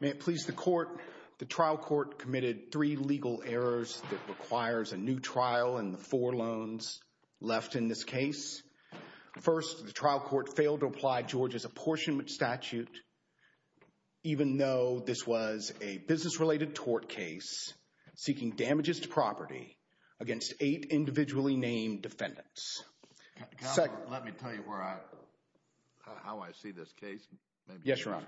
May it please the court, the trial court committed three legal errors that requires a new trial and the four loans left in this case. First, the trial court failed to apply George's apportionment statute even though this was a business-related tort case seeking damages to property against eight individually named defendants. Let me tell you where I, how I see this case, maybe you're responsible. Yes, Your Honor.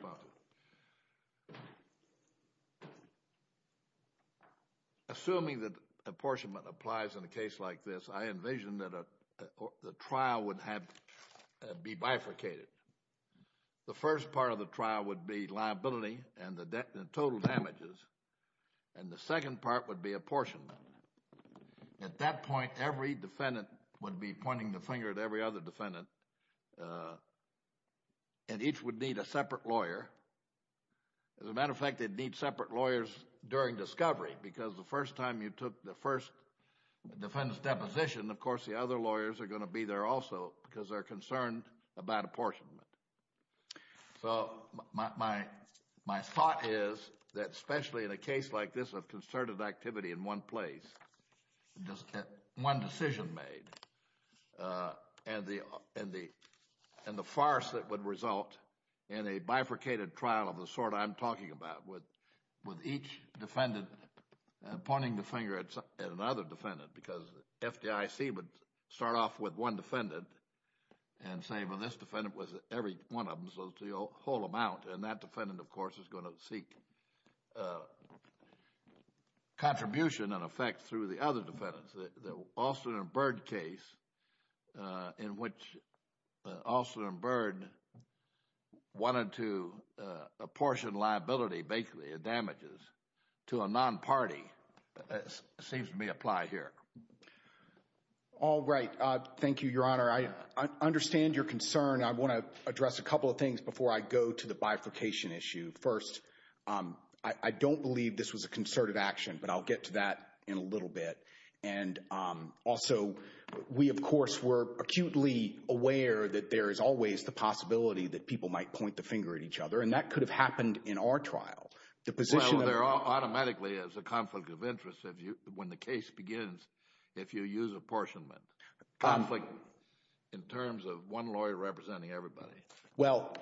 Assuming that apportionment applies in a case like this, I envision that the trial would have, be bifurcated. The first part of the trial would be liability and the total damages and the second part would be apportionment. At that point, every defendant would be pointing the finger at every other defendant and each would need a separate lawyer. As a matter of fact, they'd need separate lawyers during discovery because the first time you took the first defendant's deposition, of course, the other lawyers are going to be there also because they're concerned about apportionment. So my thought is that especially in a case like this of concerted activity in one place, just one decision made, and the farce that would result in a bifurcated trial of the sort I'm talking about with each defendant pointing the finger at another defendant because FDIC would start off with one defendant and say, well, this defendant was every one of them, so it's the whole amount, and that defendant, of course, is going to seek contribution and through the other defendants, the Alston and Byrd case in which Alston and Byrd wanted to apportion liability basically of damages to a non-party seems to be applied here. All right. Thank you, Your Honor. I understand your concern. I want to address a couple of things before I go to the bifurcation issue. First, I don't believe this was a concerted action, but I'll get to that in a little bit. And also, we, of course, were acutely aware that there is always the possibility that people might point the finger at each other, and that could have happened in our trial. The position of— Well, there automatically is a conflict of interest when the case begins if you use apportionment. Conflict in terms of one lawyer representing everybody. Well,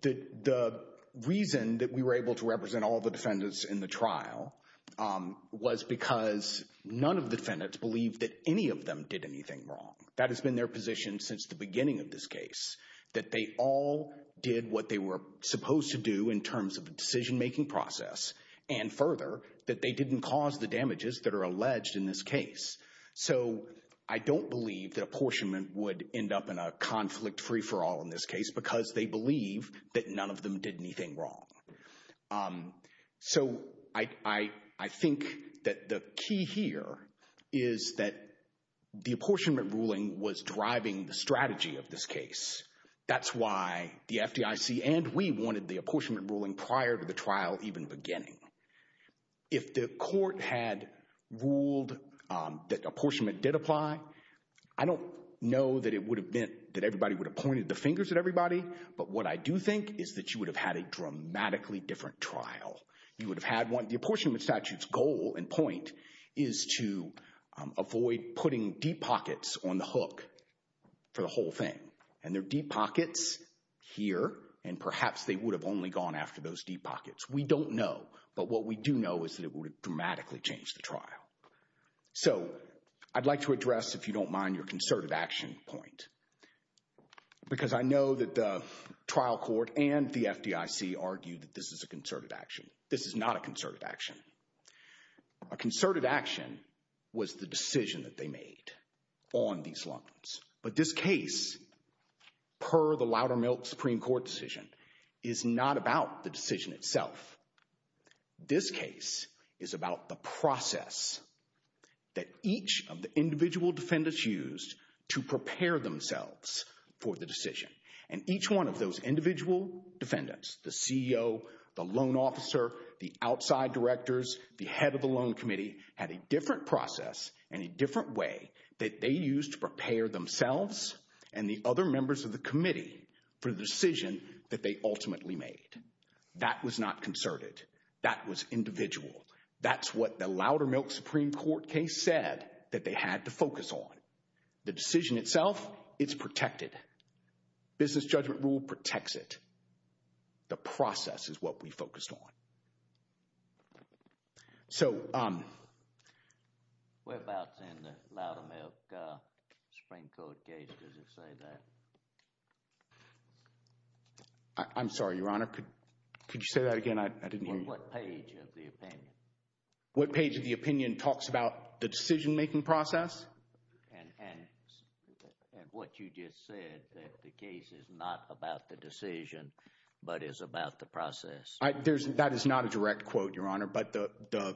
the reason that we were able to represent all the defendants in the trial was because none of the defendants believed that any of them did anything wrong. That has been their position since the beginning of this case, that they all did what they were supposed to do in terms of a decision-making process, and further, that they didn't cause the damages that are alleged in this case. So I don't believe that apportionment would end up in a conflict free-for-all in this case, because they believe that none of them did anything wrong. So I think that the key here is that the apportionment ruling was driving the strategy of this case. That's why the FDIC and we wanted the apportionment ruling prior to the trial even beginning. If the court had ruled that apportionment did apply, I don't know that it would have meant that everybody would have pointed the fingers at everybody. But what I do think is that you would have had a dramatically different trial. You would have had one. The apportionment statute's goal and point is to avoid putting deep pockets on the hook for the whole thing. And there are deep pockets here, and perhaps they would have only gone after those deep pockets. We don't know. But what we do know is that it would have dramatically changed the trial. So I'd like to address, if you don't mind, your concerted action point. Because I know that the trial court and the FDIC argued that this is a concerted action. This is not a concerted action. A concerted action was the decision that they made on these loans. But this case, per the Loudermilk Supreme Court decision, is not about the decision itself. This case is about the process that each of the individual defendants used to prepare themselves for the decision. And each one of those individual defendants, the CEO, the loan officer, the outside directors, the head of the loan committee, had a different process and a different way that they used to prepare themselves and the other members of the committee for the decision that they ultimately made. That was not concerted. That was individual. That's what the Loudermilk Supreme Court case said that they had to focus on. The decision itself, it's protected. Business judgment rule protects it. The process is what we focused on. So um... We're about to end the Loudermilk Supreme Court case, does it say that? I'm sorry, Your Honor, could you say that again? I didn't hear you. What page of the opinion? What page of the opinion talks about the decision-making process? And what you just said, that the case is not about the decision but is about the process. That is not a direct quote, Your Honor, but the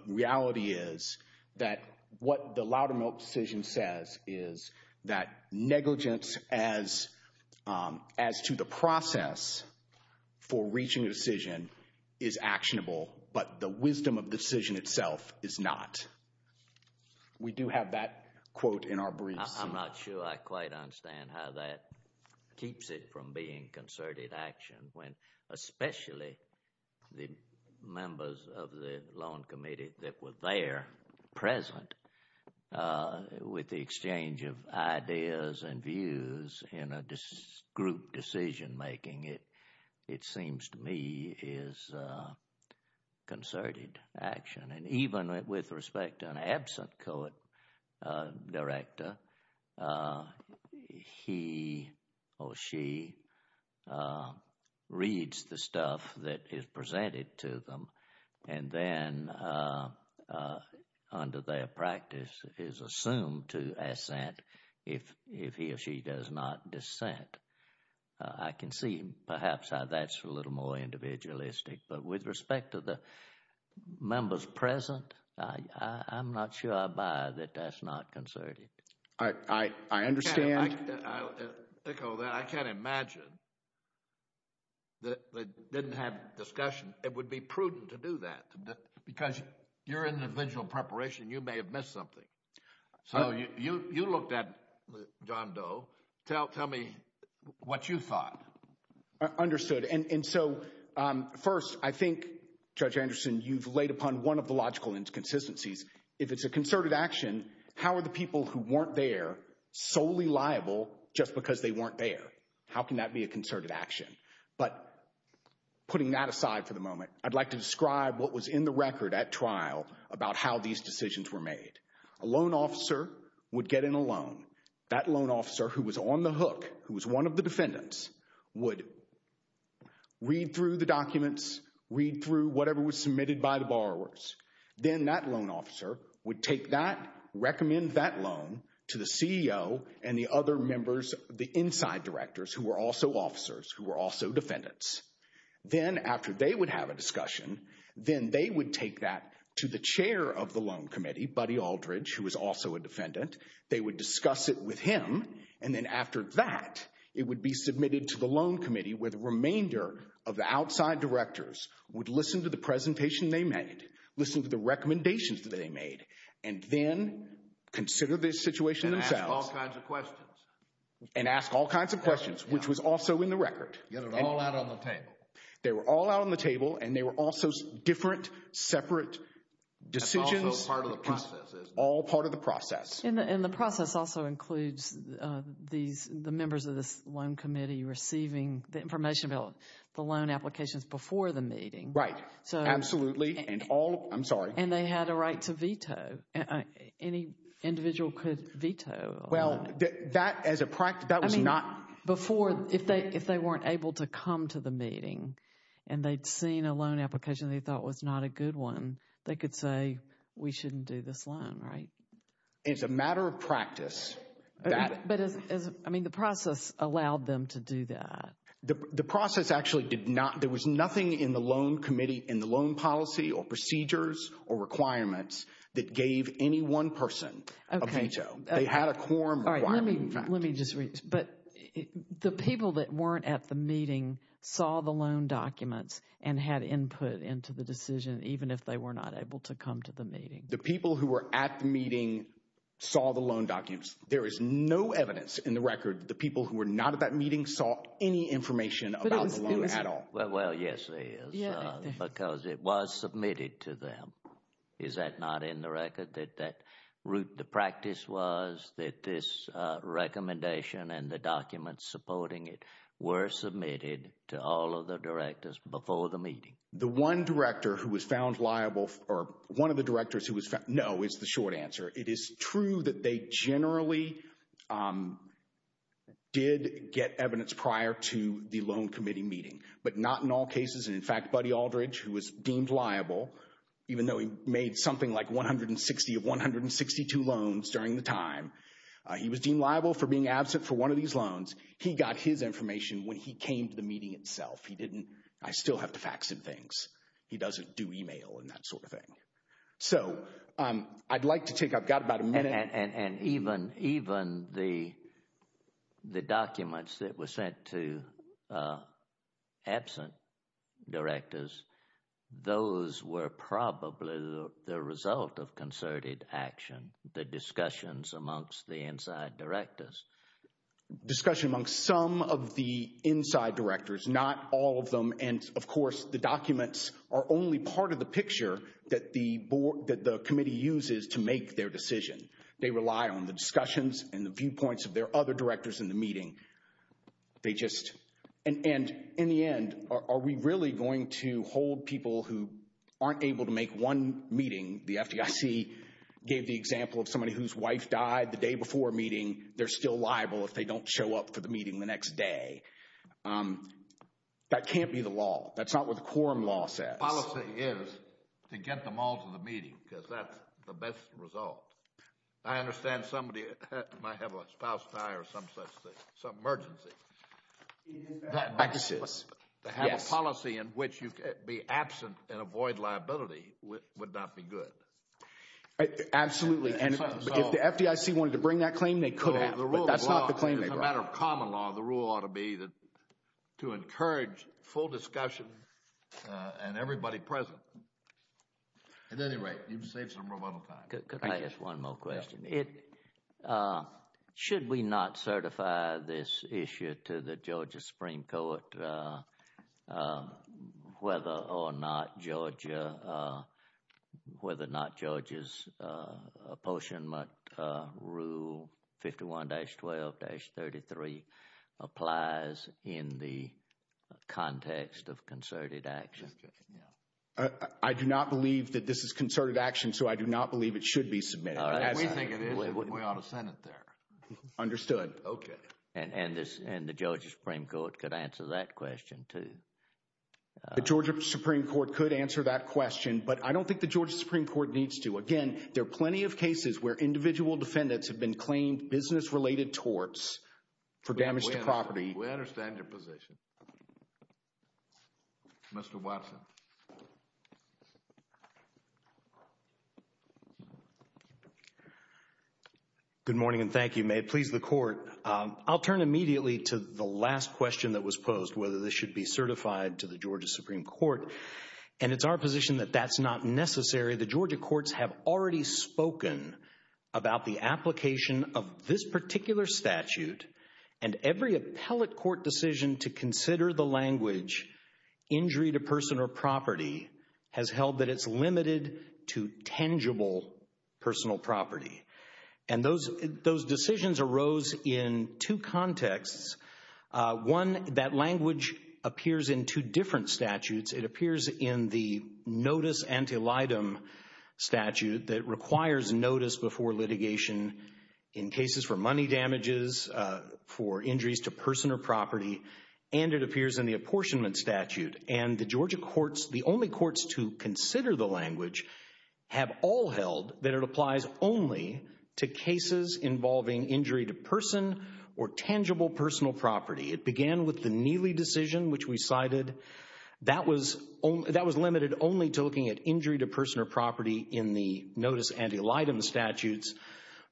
reality is that what the Loudermilk decision says is that negligence as to the process for reaching a decision is actionable, but the wisdom of the decision itself is not. We do have that quote in our briefs. I'm not sure I quite understand how that keeps it from being concerted action when especially the members of the Loan Committee that were there present with the exchange of ideas and views in a group decision-making, it seems to me is concerted action. And even with respect to an absent COET director, he or she reads the stuff that is presented to them and then under their practice is assumed to assent if he or she does not dissent. I can see perhaps how that's a little more individualistic, but with respect to the members present, I'm not sure I buy that that's not concerted. I understand. I'll echo that. I can't imagine that they didn't have a discussion. It would be prudent to do that because your individual preparation, you may have missed something. So, you looked at John Doe. Tell me what you thought. Understood. And so, first, I think, Judge Anderson, you've laid upon one of the logical inconsistencies. If it's a concerted action, how are the people who weren't there solely liable just because they weren't there? How can that be a concerted action? But putting that aside for the moment, I'd like to describe what was in the record at trial about how these decisions were made. A loan officer would get in a loan. That loan officer who was on the hook, who was one of the defendants, would read through the documents, read through whatever was submitted by the borrowers. Then that loan officer would take that, recommend that loan to the CEO and the other members, the inside directors who were also officers, who were also defendants. Then after they would have a discussion, then they would take that to the chair of the loan committee, Buddy Aldridge, who was also a defendant. They would discuss it with him. And then after that, it would be submitted to the loan committee, where the remainder of the outside directors would listen to the presentation they made, listen to the recommendations that they made, and then consider the situation themselves. And ask all kinds of questions. And ask all kinds of questions, which was also in the record. Get it all out on the table. They were all out on the table, and they were also different, separate decisions. That's also part of the process. All part of the process. And the process also includes these, the members of this loan committee receiving the information about the loan applications before the meeting. Right. Absolutely. And all, I'm sorry. And they had a right to veto. Any individual could veto a loan. Well, that, as a practice, that was not. Before, if they weren't able to come to the meeting, and they'd seen a loan application they thought was not a good one, they could say, we shouldn't do this loan, right? And it's a matter of practice that. But as, I mean, the process allowed them to do that. The process actually did not, there was nothing in the loan committee, in the loan policy or procedures or requirements that gave any one person a veto. They had a quorum requirement, in fact. Let me just read. But the people that weren't at the meeting saw the loan documents and had input into the decision, even if they were not able to come to the meeting. The people who were at the meeting saw the loan documents. There is no evidence in the record that the people who were not at that meeting saw any information about the loan at all. Well, yes, there is. Because it was submitted to them. Is that not in the record that that route, the practice was that this recommendation and the documents supporting it were submitted to all of the directors before the meeting? The one director who was found liable, or one of the directors who was found, no, is the short answer. It is true that they generally did get evidence prior to the loan committee meeting. But not in all cases. And in fact, Buddy Aldridge, who was deemed liable, even though he made something like 160 of 162 loans during the time, he was deemed liable for being absent for one of these loans. He got his information when he came to the meeting itself. He didn't. I still have to fax him things. He doesn't do email and that sort of thing. So I'd like to take, I've got about a minute. And even the documents that were sent to absent directors, those were probably the result of concerted action, the discussions amongst the inside directors. Discussion amongst some of the inside directors, not all of them. And of course, the documents are only part of the picture that the board, that the committee uses to make their decision. They rely on the discussions and the viewpoints of their other directors in the meeting. They just, and in the end, are we really going to hold people who aren't able to make one meeting? The FDIC gave the example of somebody whose wife died the day before a meeting. They're still liable if they don't show up for the meeting the next day. That can't be the law. That's not what the quorum law says. The policy is to get them all to the meeting because that's the best result. I understand somebody might have a spouse die or some such thing, some emergency. That's what the policy is. To have a policy in which you can be absent and avoid liability would not be good. Absolutely. And if the FDIC wanted to bring that claim, they could have, but that's not the claim they brought. As a matter of common law, the rule ought to be to encourage full discussion and everybody present. At any rate, you've saved some rebuttal time. Could I ask one more question? Should we not certify this issue to the Georgia Supreme Court whether or not Georgia, whether or not Proposition Rule 51-12-33 applies in the context of concerted action? I do not believe that this is concerted action, so I do not believe it should be submitted. We think it is. We ought to send it there. Understood. Okay. And the Georgia Supreme Court could answer that question too. The Georgia Supreme Court could answer that question, but I don't think the Georgia Supreme Court needs to. Again, there are plenty of cases where individual defendants have been claimed business-related torts for damage to property. We understand your position. Mr. Watson. Good morning and thank you. May it please the Court. I'll turn immediately to the last question that was posed, whether this should be certified to the Georgia Supreme Court, and it's our position that that's not necessary. The Georgia courts have already spoken about the application of this particular statute, and every appellate court decision to consider the language, injury to person or property, has held that it's limited to tangible personal property. And those decisions arose in two contexts. One, that language appears in two different statutes. It appears in the notice antelitum statute that requires notice before litigation in cases for money damages, for injuries to person or property, and it appears in the apportionment statute. And the Georgia courts, the only courts to consider the language, have all held that it applies only to cases involving injury to person or tangible personal property. It began with the Neely decision, which we cited. That was limited only to looking at injury to person or property in the notice antelitum statutes,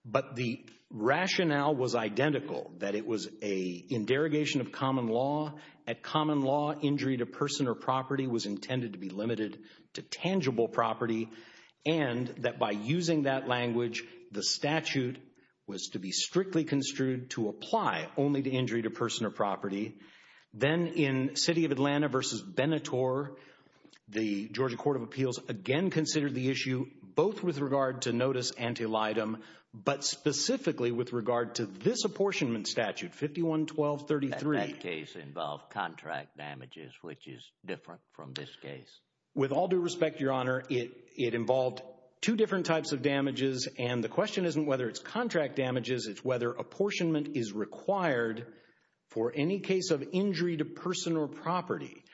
but the rationale was identical, that it was an interrogation of common law. At common law, injury to person or property was intended to be limited to tangible property, and that by using that language, the statute was to be strictly construed to apply only to injury to person or property. Then, in City of Atlanta v. Beneteau, the Georgia Court of Appeals again considered the issue, both with regard to notice antelitum, but specifically with regard to this apportionment statute, 51-1233. That case involved contract damages, which is different from this case. With all due respect, Your Honor, it involved two different types of damages, and the question isn't whether it's contract damages, it's whether apportionment is required for any case of injury to person or property.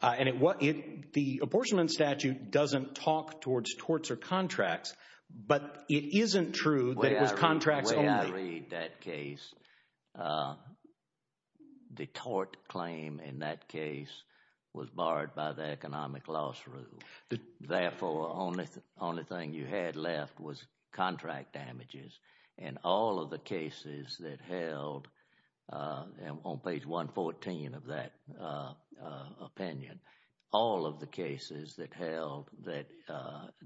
The apportionment statute doesn't talk towards torts or contracts, but it isn't true that it was contracts only. The way I read that case, the tort claim in that case was barred by the economic loss rule. Therefore, the only thing you had left was contract damages, and all of the cases that held, on page 114 of that opinion, all of the cases that held that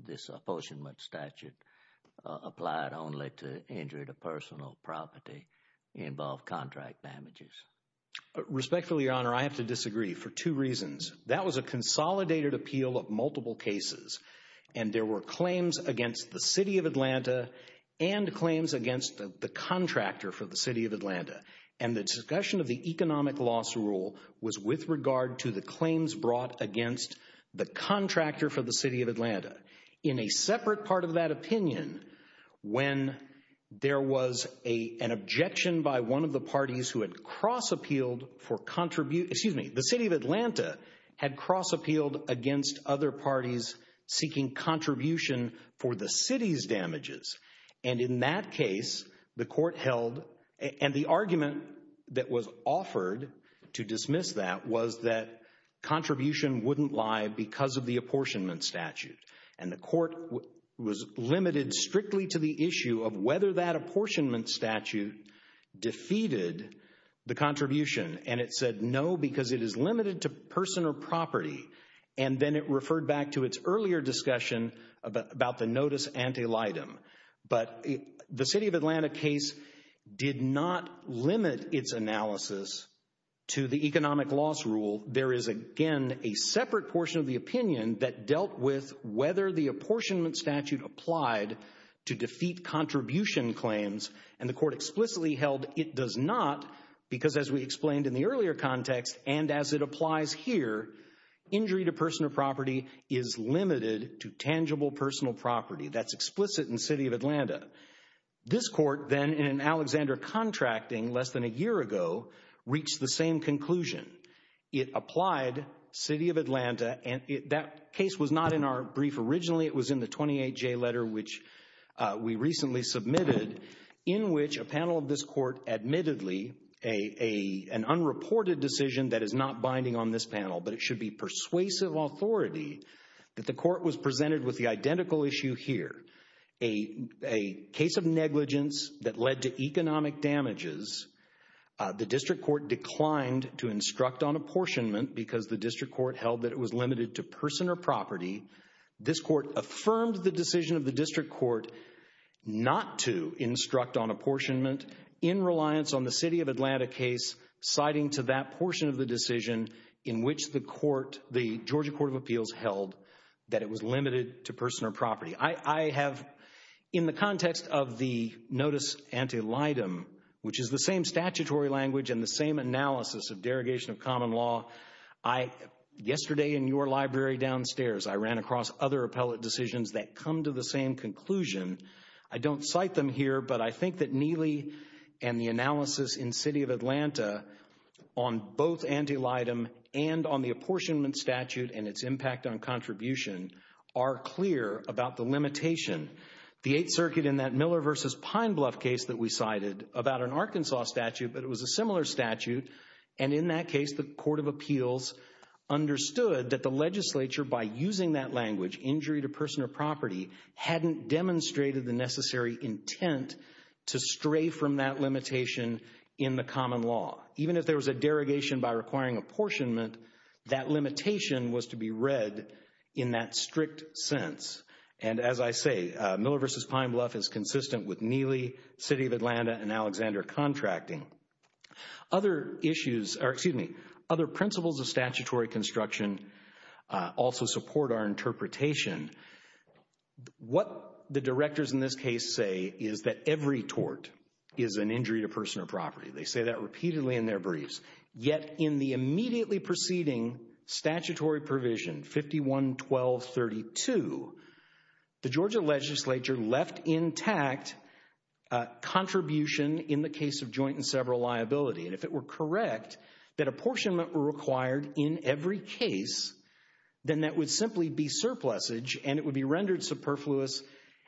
this apportionment statute applied only to injury to person or property involved contract damages. Respectfully, Your Honor, I have to disagree for two reasons. That was a consolidated appeal of multiple cases, and there were claims against the City of Atlanta and claims against the contractor for the City of Atlanta, and the discussion of the economic loss rule was with regard to the claims brought against the contractor for the City of Atlanta. In a separate part of that opinion, when there was an objection by one of the parties who had cross-appealed for, excuse me, the City of Atlanta had cross-appealed against other parties seeking contribution for the city's damages, and in that case, the court held, and the argument that was offered to dismiss that was that contribution wouldn't lie because of the apportionment statute, and the court was limited strictly to the issue of whether that apportionment statute defeated the contribution, and it said no because it is limited to person or property, and then it referred back to its earlier discussion about the notice antelitum. But the City of Atlanta case did not limit its analysis to the economic loss rule. There is, again, a separate portion of the opinion that dealt with whether the apportionment statute applied to defeat contribution claims, and the court explicitly held it does not because as we explained in the earlier context, and as it applies here, injury to person or property is limited to tangible personal property. That's explicit in City of Atlanta. This court then, in an Alexander contracting less than a year ago, reached the same conclusion. It applied City of Atlanta, and that case was not in our brief originally. It was in the 28-J letter, which we recently submitted, in which a panel of this court admittedly, an unreported decision that is not binding on this panel, but it should be persuasive authority that the court was presented with the identical issue here, a case of negligence that led to economic damages. The district court declined to instruct on apportionment because the district court held that it was limited to person or property. This court affirmed the decision of the district court not to instruct on apportionment in reliance on the City of Atlanta case, citing to that portion of the decision in which the court, the Georgia Court of Appeals, held that it was limited to person or property. I have, in the context of the notice antelitum, which is the same statutory language and the same analysis of derogation of common law, yesterday in your library downstairs, I ran across other appellate decisions that come to the same conclusion. I don't cite them here, but I think that Neely and the analysis in City of Atlanta on both antelitum and on the apportionment statute and its impact on contribution are clear about the limitation. The Eighth Circuit in that Miller v. Pine Bluff case that we cited about an Arkansas statute, but it was a similar statute, and in that case, the Court of Appeals understood that the legislature, by using that language, injury to person or property, hadn't demonstrated the necessary intent to stray from that limitation in the common law. Even if there was a derogation by requiring apportionment, that limitation was to be read in that strict sense. And as I say, Miller v. Pine Bluff is consistent with Neely, City of Atlanta, and Alexander contracting. Other principles of statutory construction also support our interpretation. What the directors in this case say is that every tort is an injury to person or property. They say that repeatedly in their briefs. Yet in the immediately preceding statutory provision, 51-1232, the Georgia legislature left intact contribution in the case of joint and several liability. And if it were correct that apportionment were required in every case, then that would simply be surplusage and it would be rendered superfluous,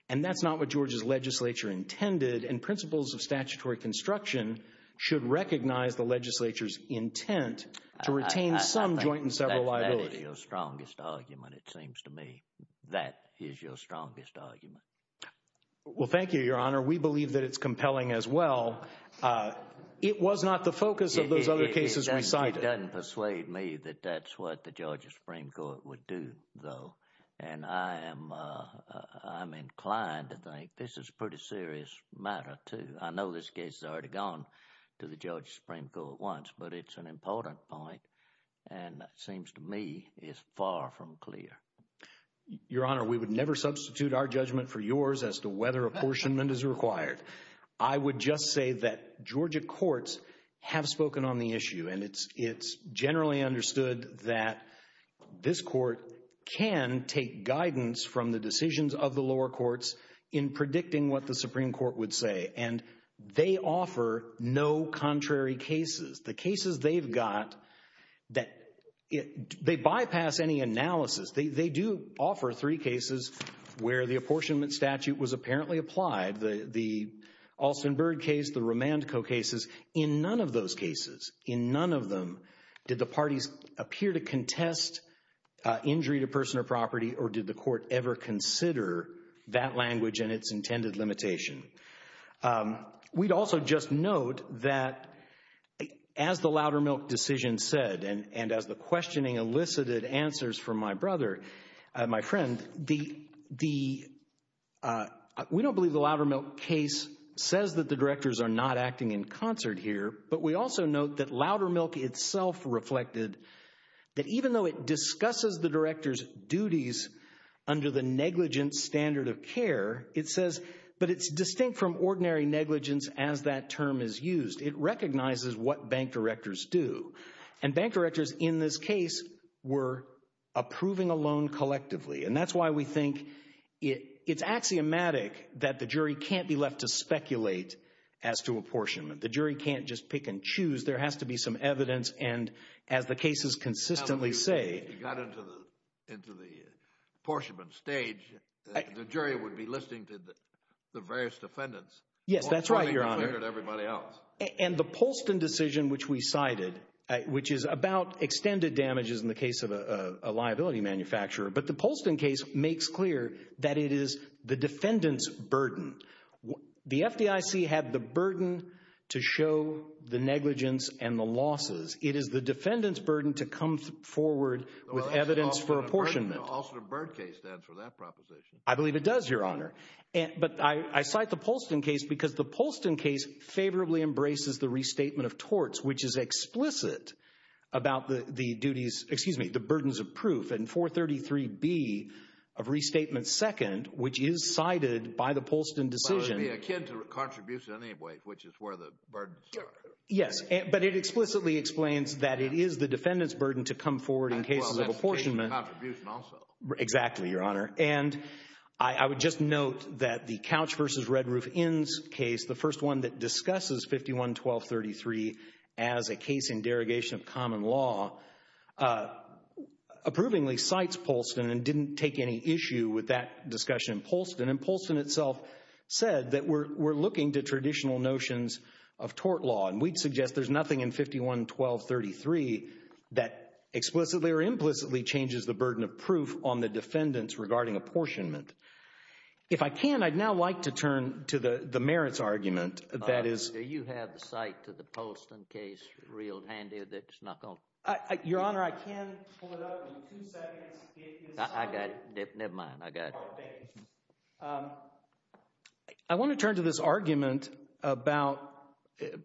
and that's not what Georgia's legislature intended, and principles of statutory construction should recognize the legislature's intent to retain some joint and several liability. That is your strongest argument, it seems to me. That is your strongest argument. Well, thank you, Your Honor. We believe that it's compelling as well. It was not the focus of those other cases recited. It doesn't persuade me that that's what the Georgia Supreme Court would do, though. And I am inclined to think this is a pretty serious matter, too. I know this case has already gone to the Georgia Supreme Court once, but it's an important point, and it seems to me is far from clear. Your Honor, we would never substitute our judgment for yours as to whether apportionment is required. I would just say that Georgia courts have spoken on the issue, and it's generally understood that this court can take guidance from the decisions of the lower courts in predicting what the Supreme Court would say, and they offer no contrary cases. The cases they've got, they bypass any analysis. They do offer three cases where the apportionment statute was apparently applied, the Alston-Byrd case, the Romandco cases. In none of those cases, in none of them, did the parties appear to contest injury to person or property or did the court ever consider that language and its intended limitation. We'd also just note that as the Loudermilk decision said, and as the questioning elicited answers from my brother, my friend, we don't believe the Loudermilk case says that the directors are not acting in concert here, but we also note that Loudermilk itself reflected that even though it discusses the directors' duties under the negligence standard of care, it says, but it's distinct from ordinary negligence as that term is used. It recognizes what bank directors do, and bank directors in this case were approving a loan collectively, and that's why we think it's axiomatic that the jury can't be left to speculate as to apportionment. The jury can't just pick and choose. There has to be some evidence, and as the cases consistently say— If you got into the apportionment stage, the jury would be listening to the various defendants Yes, that's right, Your Honor. And the Poulston decision, which we cited, which is about extended damages in the case of a liability manufacturer, but the Poulston case makes clear that it is the defendant's burden. The FDIC had the burden to show the negligence and the losses. It is the defendant's burden to come forward with evidence for apportionment. The Alston and Byrd case stands for that proposition. I believe it does, Your Honor. But I cite the Poulston case because the Poulston case favorably embraces the restatement of torts, which is explicit about the duties—excuse me, the burdens of proof. And 433B of Restatement 2nd, which is cited by the Poulston decision— Well, it would be akin to contribution in any way, which is where the burdens are. Yes, but it explicitly explains that it is the defendant's burden to come forward in cases of apportionment. Well, that's the case of contribution also. Exactly, Your Honor. And I would just note that the Couch v. Redruth-Inns case, the first one that discusses 51-1233 as a case in derogation of common law, approvingly cites Poulston and didn't take any issue with that discussion in Poulston. And Poulston itself said that we're looking to traditional notions of tort law. And we'd suggest there's nothing in 51-1233 that explicitly or implicitly changes the burden of proof on the defendants regarding apportionment. If I can, I'd now like to turn to the merits argument that is— I've got a Poulston case reeled handy that's not going to— Your Honor, I can pull it up in two seconds if you decide— I got it. Never mind. I got it. All right. Thanks. I want to turn to this argument about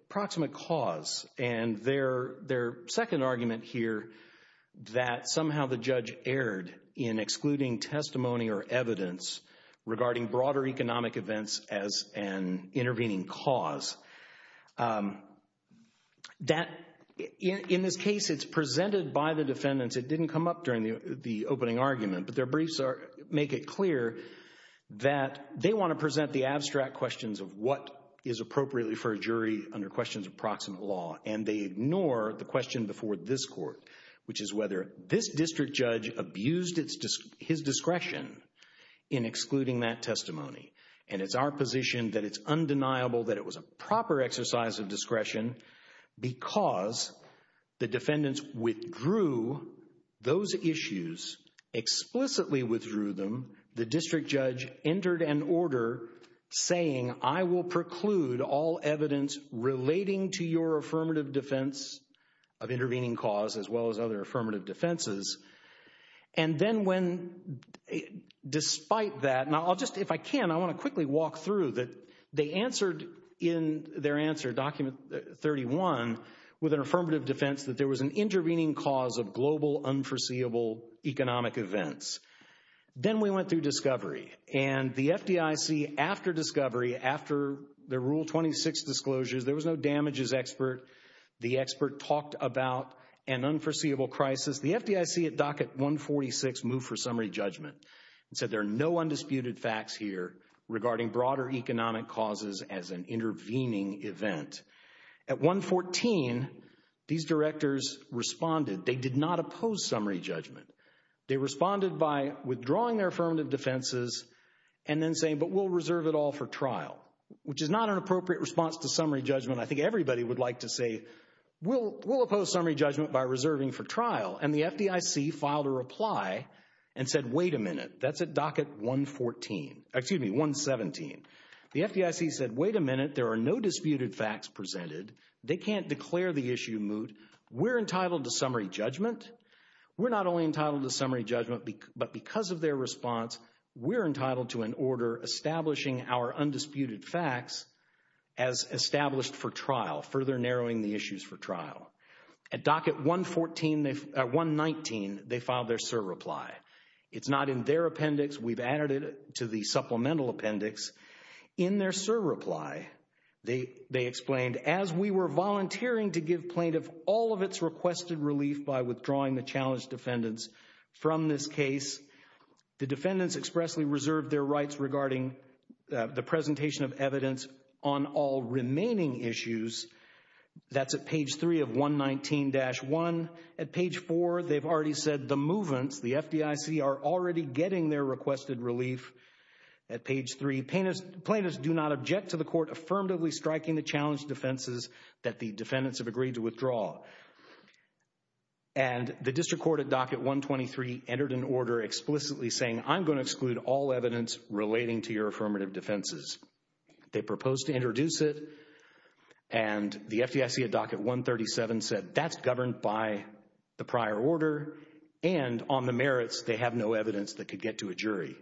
proximate cause and their second argument here that somehow the judge erred in excluding testimony or evidence regarding broader economic events as an intervening cause. In this case, it's presented by the defendants. It didn't come up during the opening argument, but their briefs make it clear that they want to present the abstract questions of what is appropriately for a jury under questions of proximate law, and they ignore the question before this court, which is whether this district judge abused his discretion in excluding that testimony. And it's our position that it's undeniable that it was a proper exercise of discretion because the defendants withdrew those issues, explicitly withdrew them. The district judge entered an order saying, I will preclude all evidence relating to your affirmative defense of intervening cause as well as other affirmative defenses. And then when, despite that, and I'll just, if I can, I want to quickly walk through that they answered in their answer, document 31, with an affirmative defense that there was an intervening cause of global unforeseeable economic events. Then we went through discovery, and the FDIC, after discovery, after the Rule 26 disclosures, there was no damages expert. The expert talked about an unforeseeable crisis. The FDIC at docket 146 moved for summary judgment and said there are no undisputed facts here regarding broader economic causes as an intervening event. At 114, these directors responded. They did not oppose summary judgment. They responded by withdrawing their affirmative defenses and then saying, but we'll reserve it all for trial, which is not an appropriate response to summary judgment. I think everybody would like to say, we'll oppose summary judgment by reserving for trial. And the FDIC filed a reply and said, wait a minute, that's at docket 114, excuse me, 117. The FDIC said, wait a minute, there are no disputed facts presented. They can't declare the issue moot. We're entitled to summary judgment. We're not only entitled to summary judgment, but because of their response, we're entitled to an order establishing our undisputed facts as established for trial, further narrowing the issues for trial. At docket 114, 119, they filed their SIR reply. It's not in their appendix. We've added it to the supplemental appendix. In their SIR reply, they explained, as we were volunteering to give plaintiff all of its requested relief by withdrawing the challenged defendants from this case, the defendants expressly reserved their rights regarding the presentation of evidence on all remaining issues. That's at page 3 of 119-1. At page 4, they've already said the movements, the FDIC are already getting their requested relief at page 3. Plaintiffs do not object to the court affirmatively striking the challenged defenses that the defendants have agreed to withdraw. And the district court at docket 123 entered an order explicitly saying, I'm going to exclude all evidence relating to your affirmative defenses. They proposed to introduce it and the FDIC at docket 137 said, that's governed by the prior order and on the merits, they have no evidence that could get to a jury.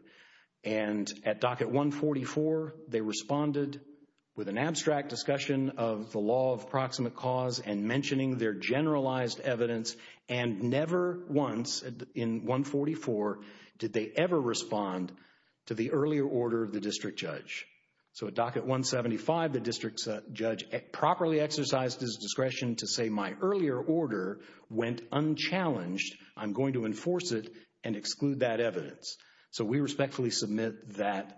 And at docket 144, they responded with an abstract discussion of the law of proximate cause and mentioning their generalized evidence and never once in 144 did they ever respond to the earlier order of the district judge. So at docket 175, the district judge properly exercised his discretion to say my earlier order went unchallenged. I'm going to enforce it and exclude that evidence. So we respectfully submit that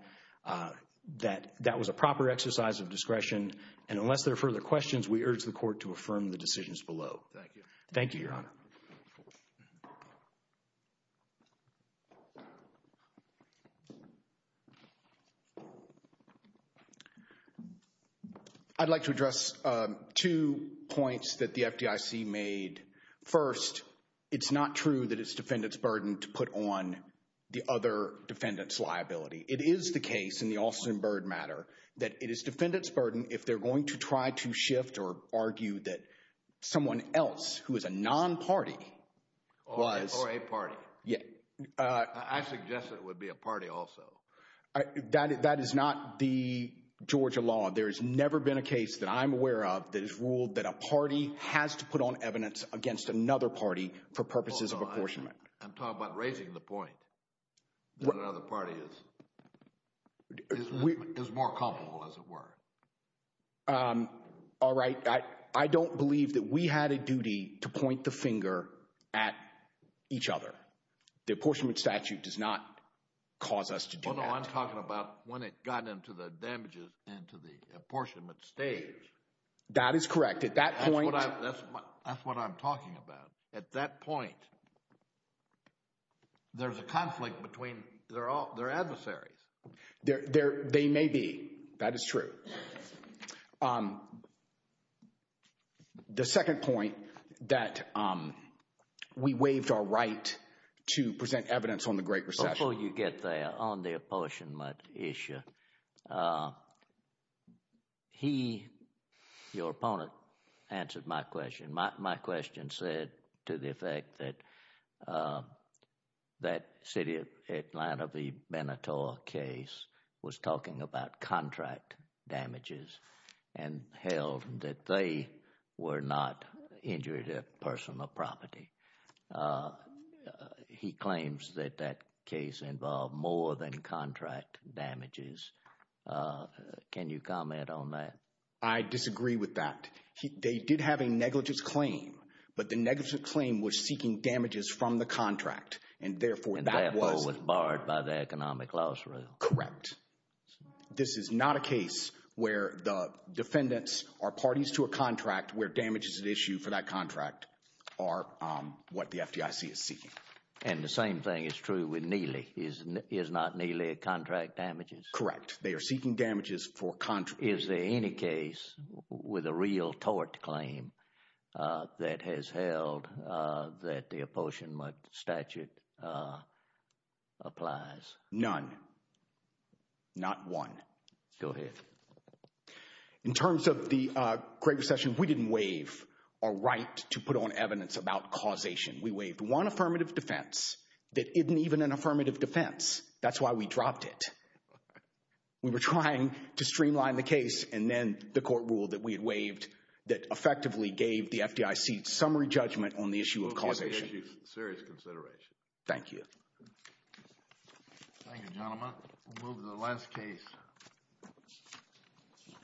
that was a proper exercise of discretion. And unless there are further questions, we urge the court to affirm the decisions below. Thank you. Thank you, your honor. I'd like to address two points that the FDIC made. First, it's not true that it's defendant's burden to put on the other defendant's liability. It is the case in the Alston Bird matter that it is defendant's burden if they're going to try to shift or argue that someone else who is a non-party was. Or a party. Yeah. I suggest it would be a party also. That is not the Georgia law. There has never been a case that I'm aware of that has ruled that a party has to put on evidence against another party for purposes of apportionment. I'm talking about raising the point that another party is more culpable, as it were. All right. I don't believe that we had a duty to point the finger at each other. The apportionment statute does not cause us to do that. Well, no, I'm talking about when it got into the damages into the apportionment stage. That is correct. At that point. That's what I'm talking about. At that point, there's a conflict between their adversaries. They may be. That is true. The second point that we waived our right to present evidence on the Great Recession. Before you get there on the apportionment issue, he, your opponent, answered my question. My question said to the effect that that City of Atlanta v. Beneteau case was talking about contract damages and held that they were not injured at personal property. He claims that that case involved more than contract damages. Can you comment on that? I disagree with that. They did have a negligence claim, but the negligence claim was seeking damages from the contract. And therefore, that was. And therefore, was barred by the economic loss rule. Correct. This is not a case where the defendants are parties to a contract where damages at issue for that contract are what the FDIC is seeking. And the same thing is true with Neely. Is not Neely a contract damages? Correct. They are seeking damages for contract. Is there any case with a real tort claim that has held that the apportionment statute applies? None. Not one. Go ahead. In terms of the Great Recession, we didn't waive our right to put on evidence about causation. We waived one affirmative defense that isn't even an affirmative defense. That's why we dropped it. We were trying to streamline the case, and then the court ruled that we had waived that effectively gave the FDIC summary judgment on the issue of causation. Okay. This is a serious consideration. Thank you. Thank you, gentlemen. We'll move to the last case.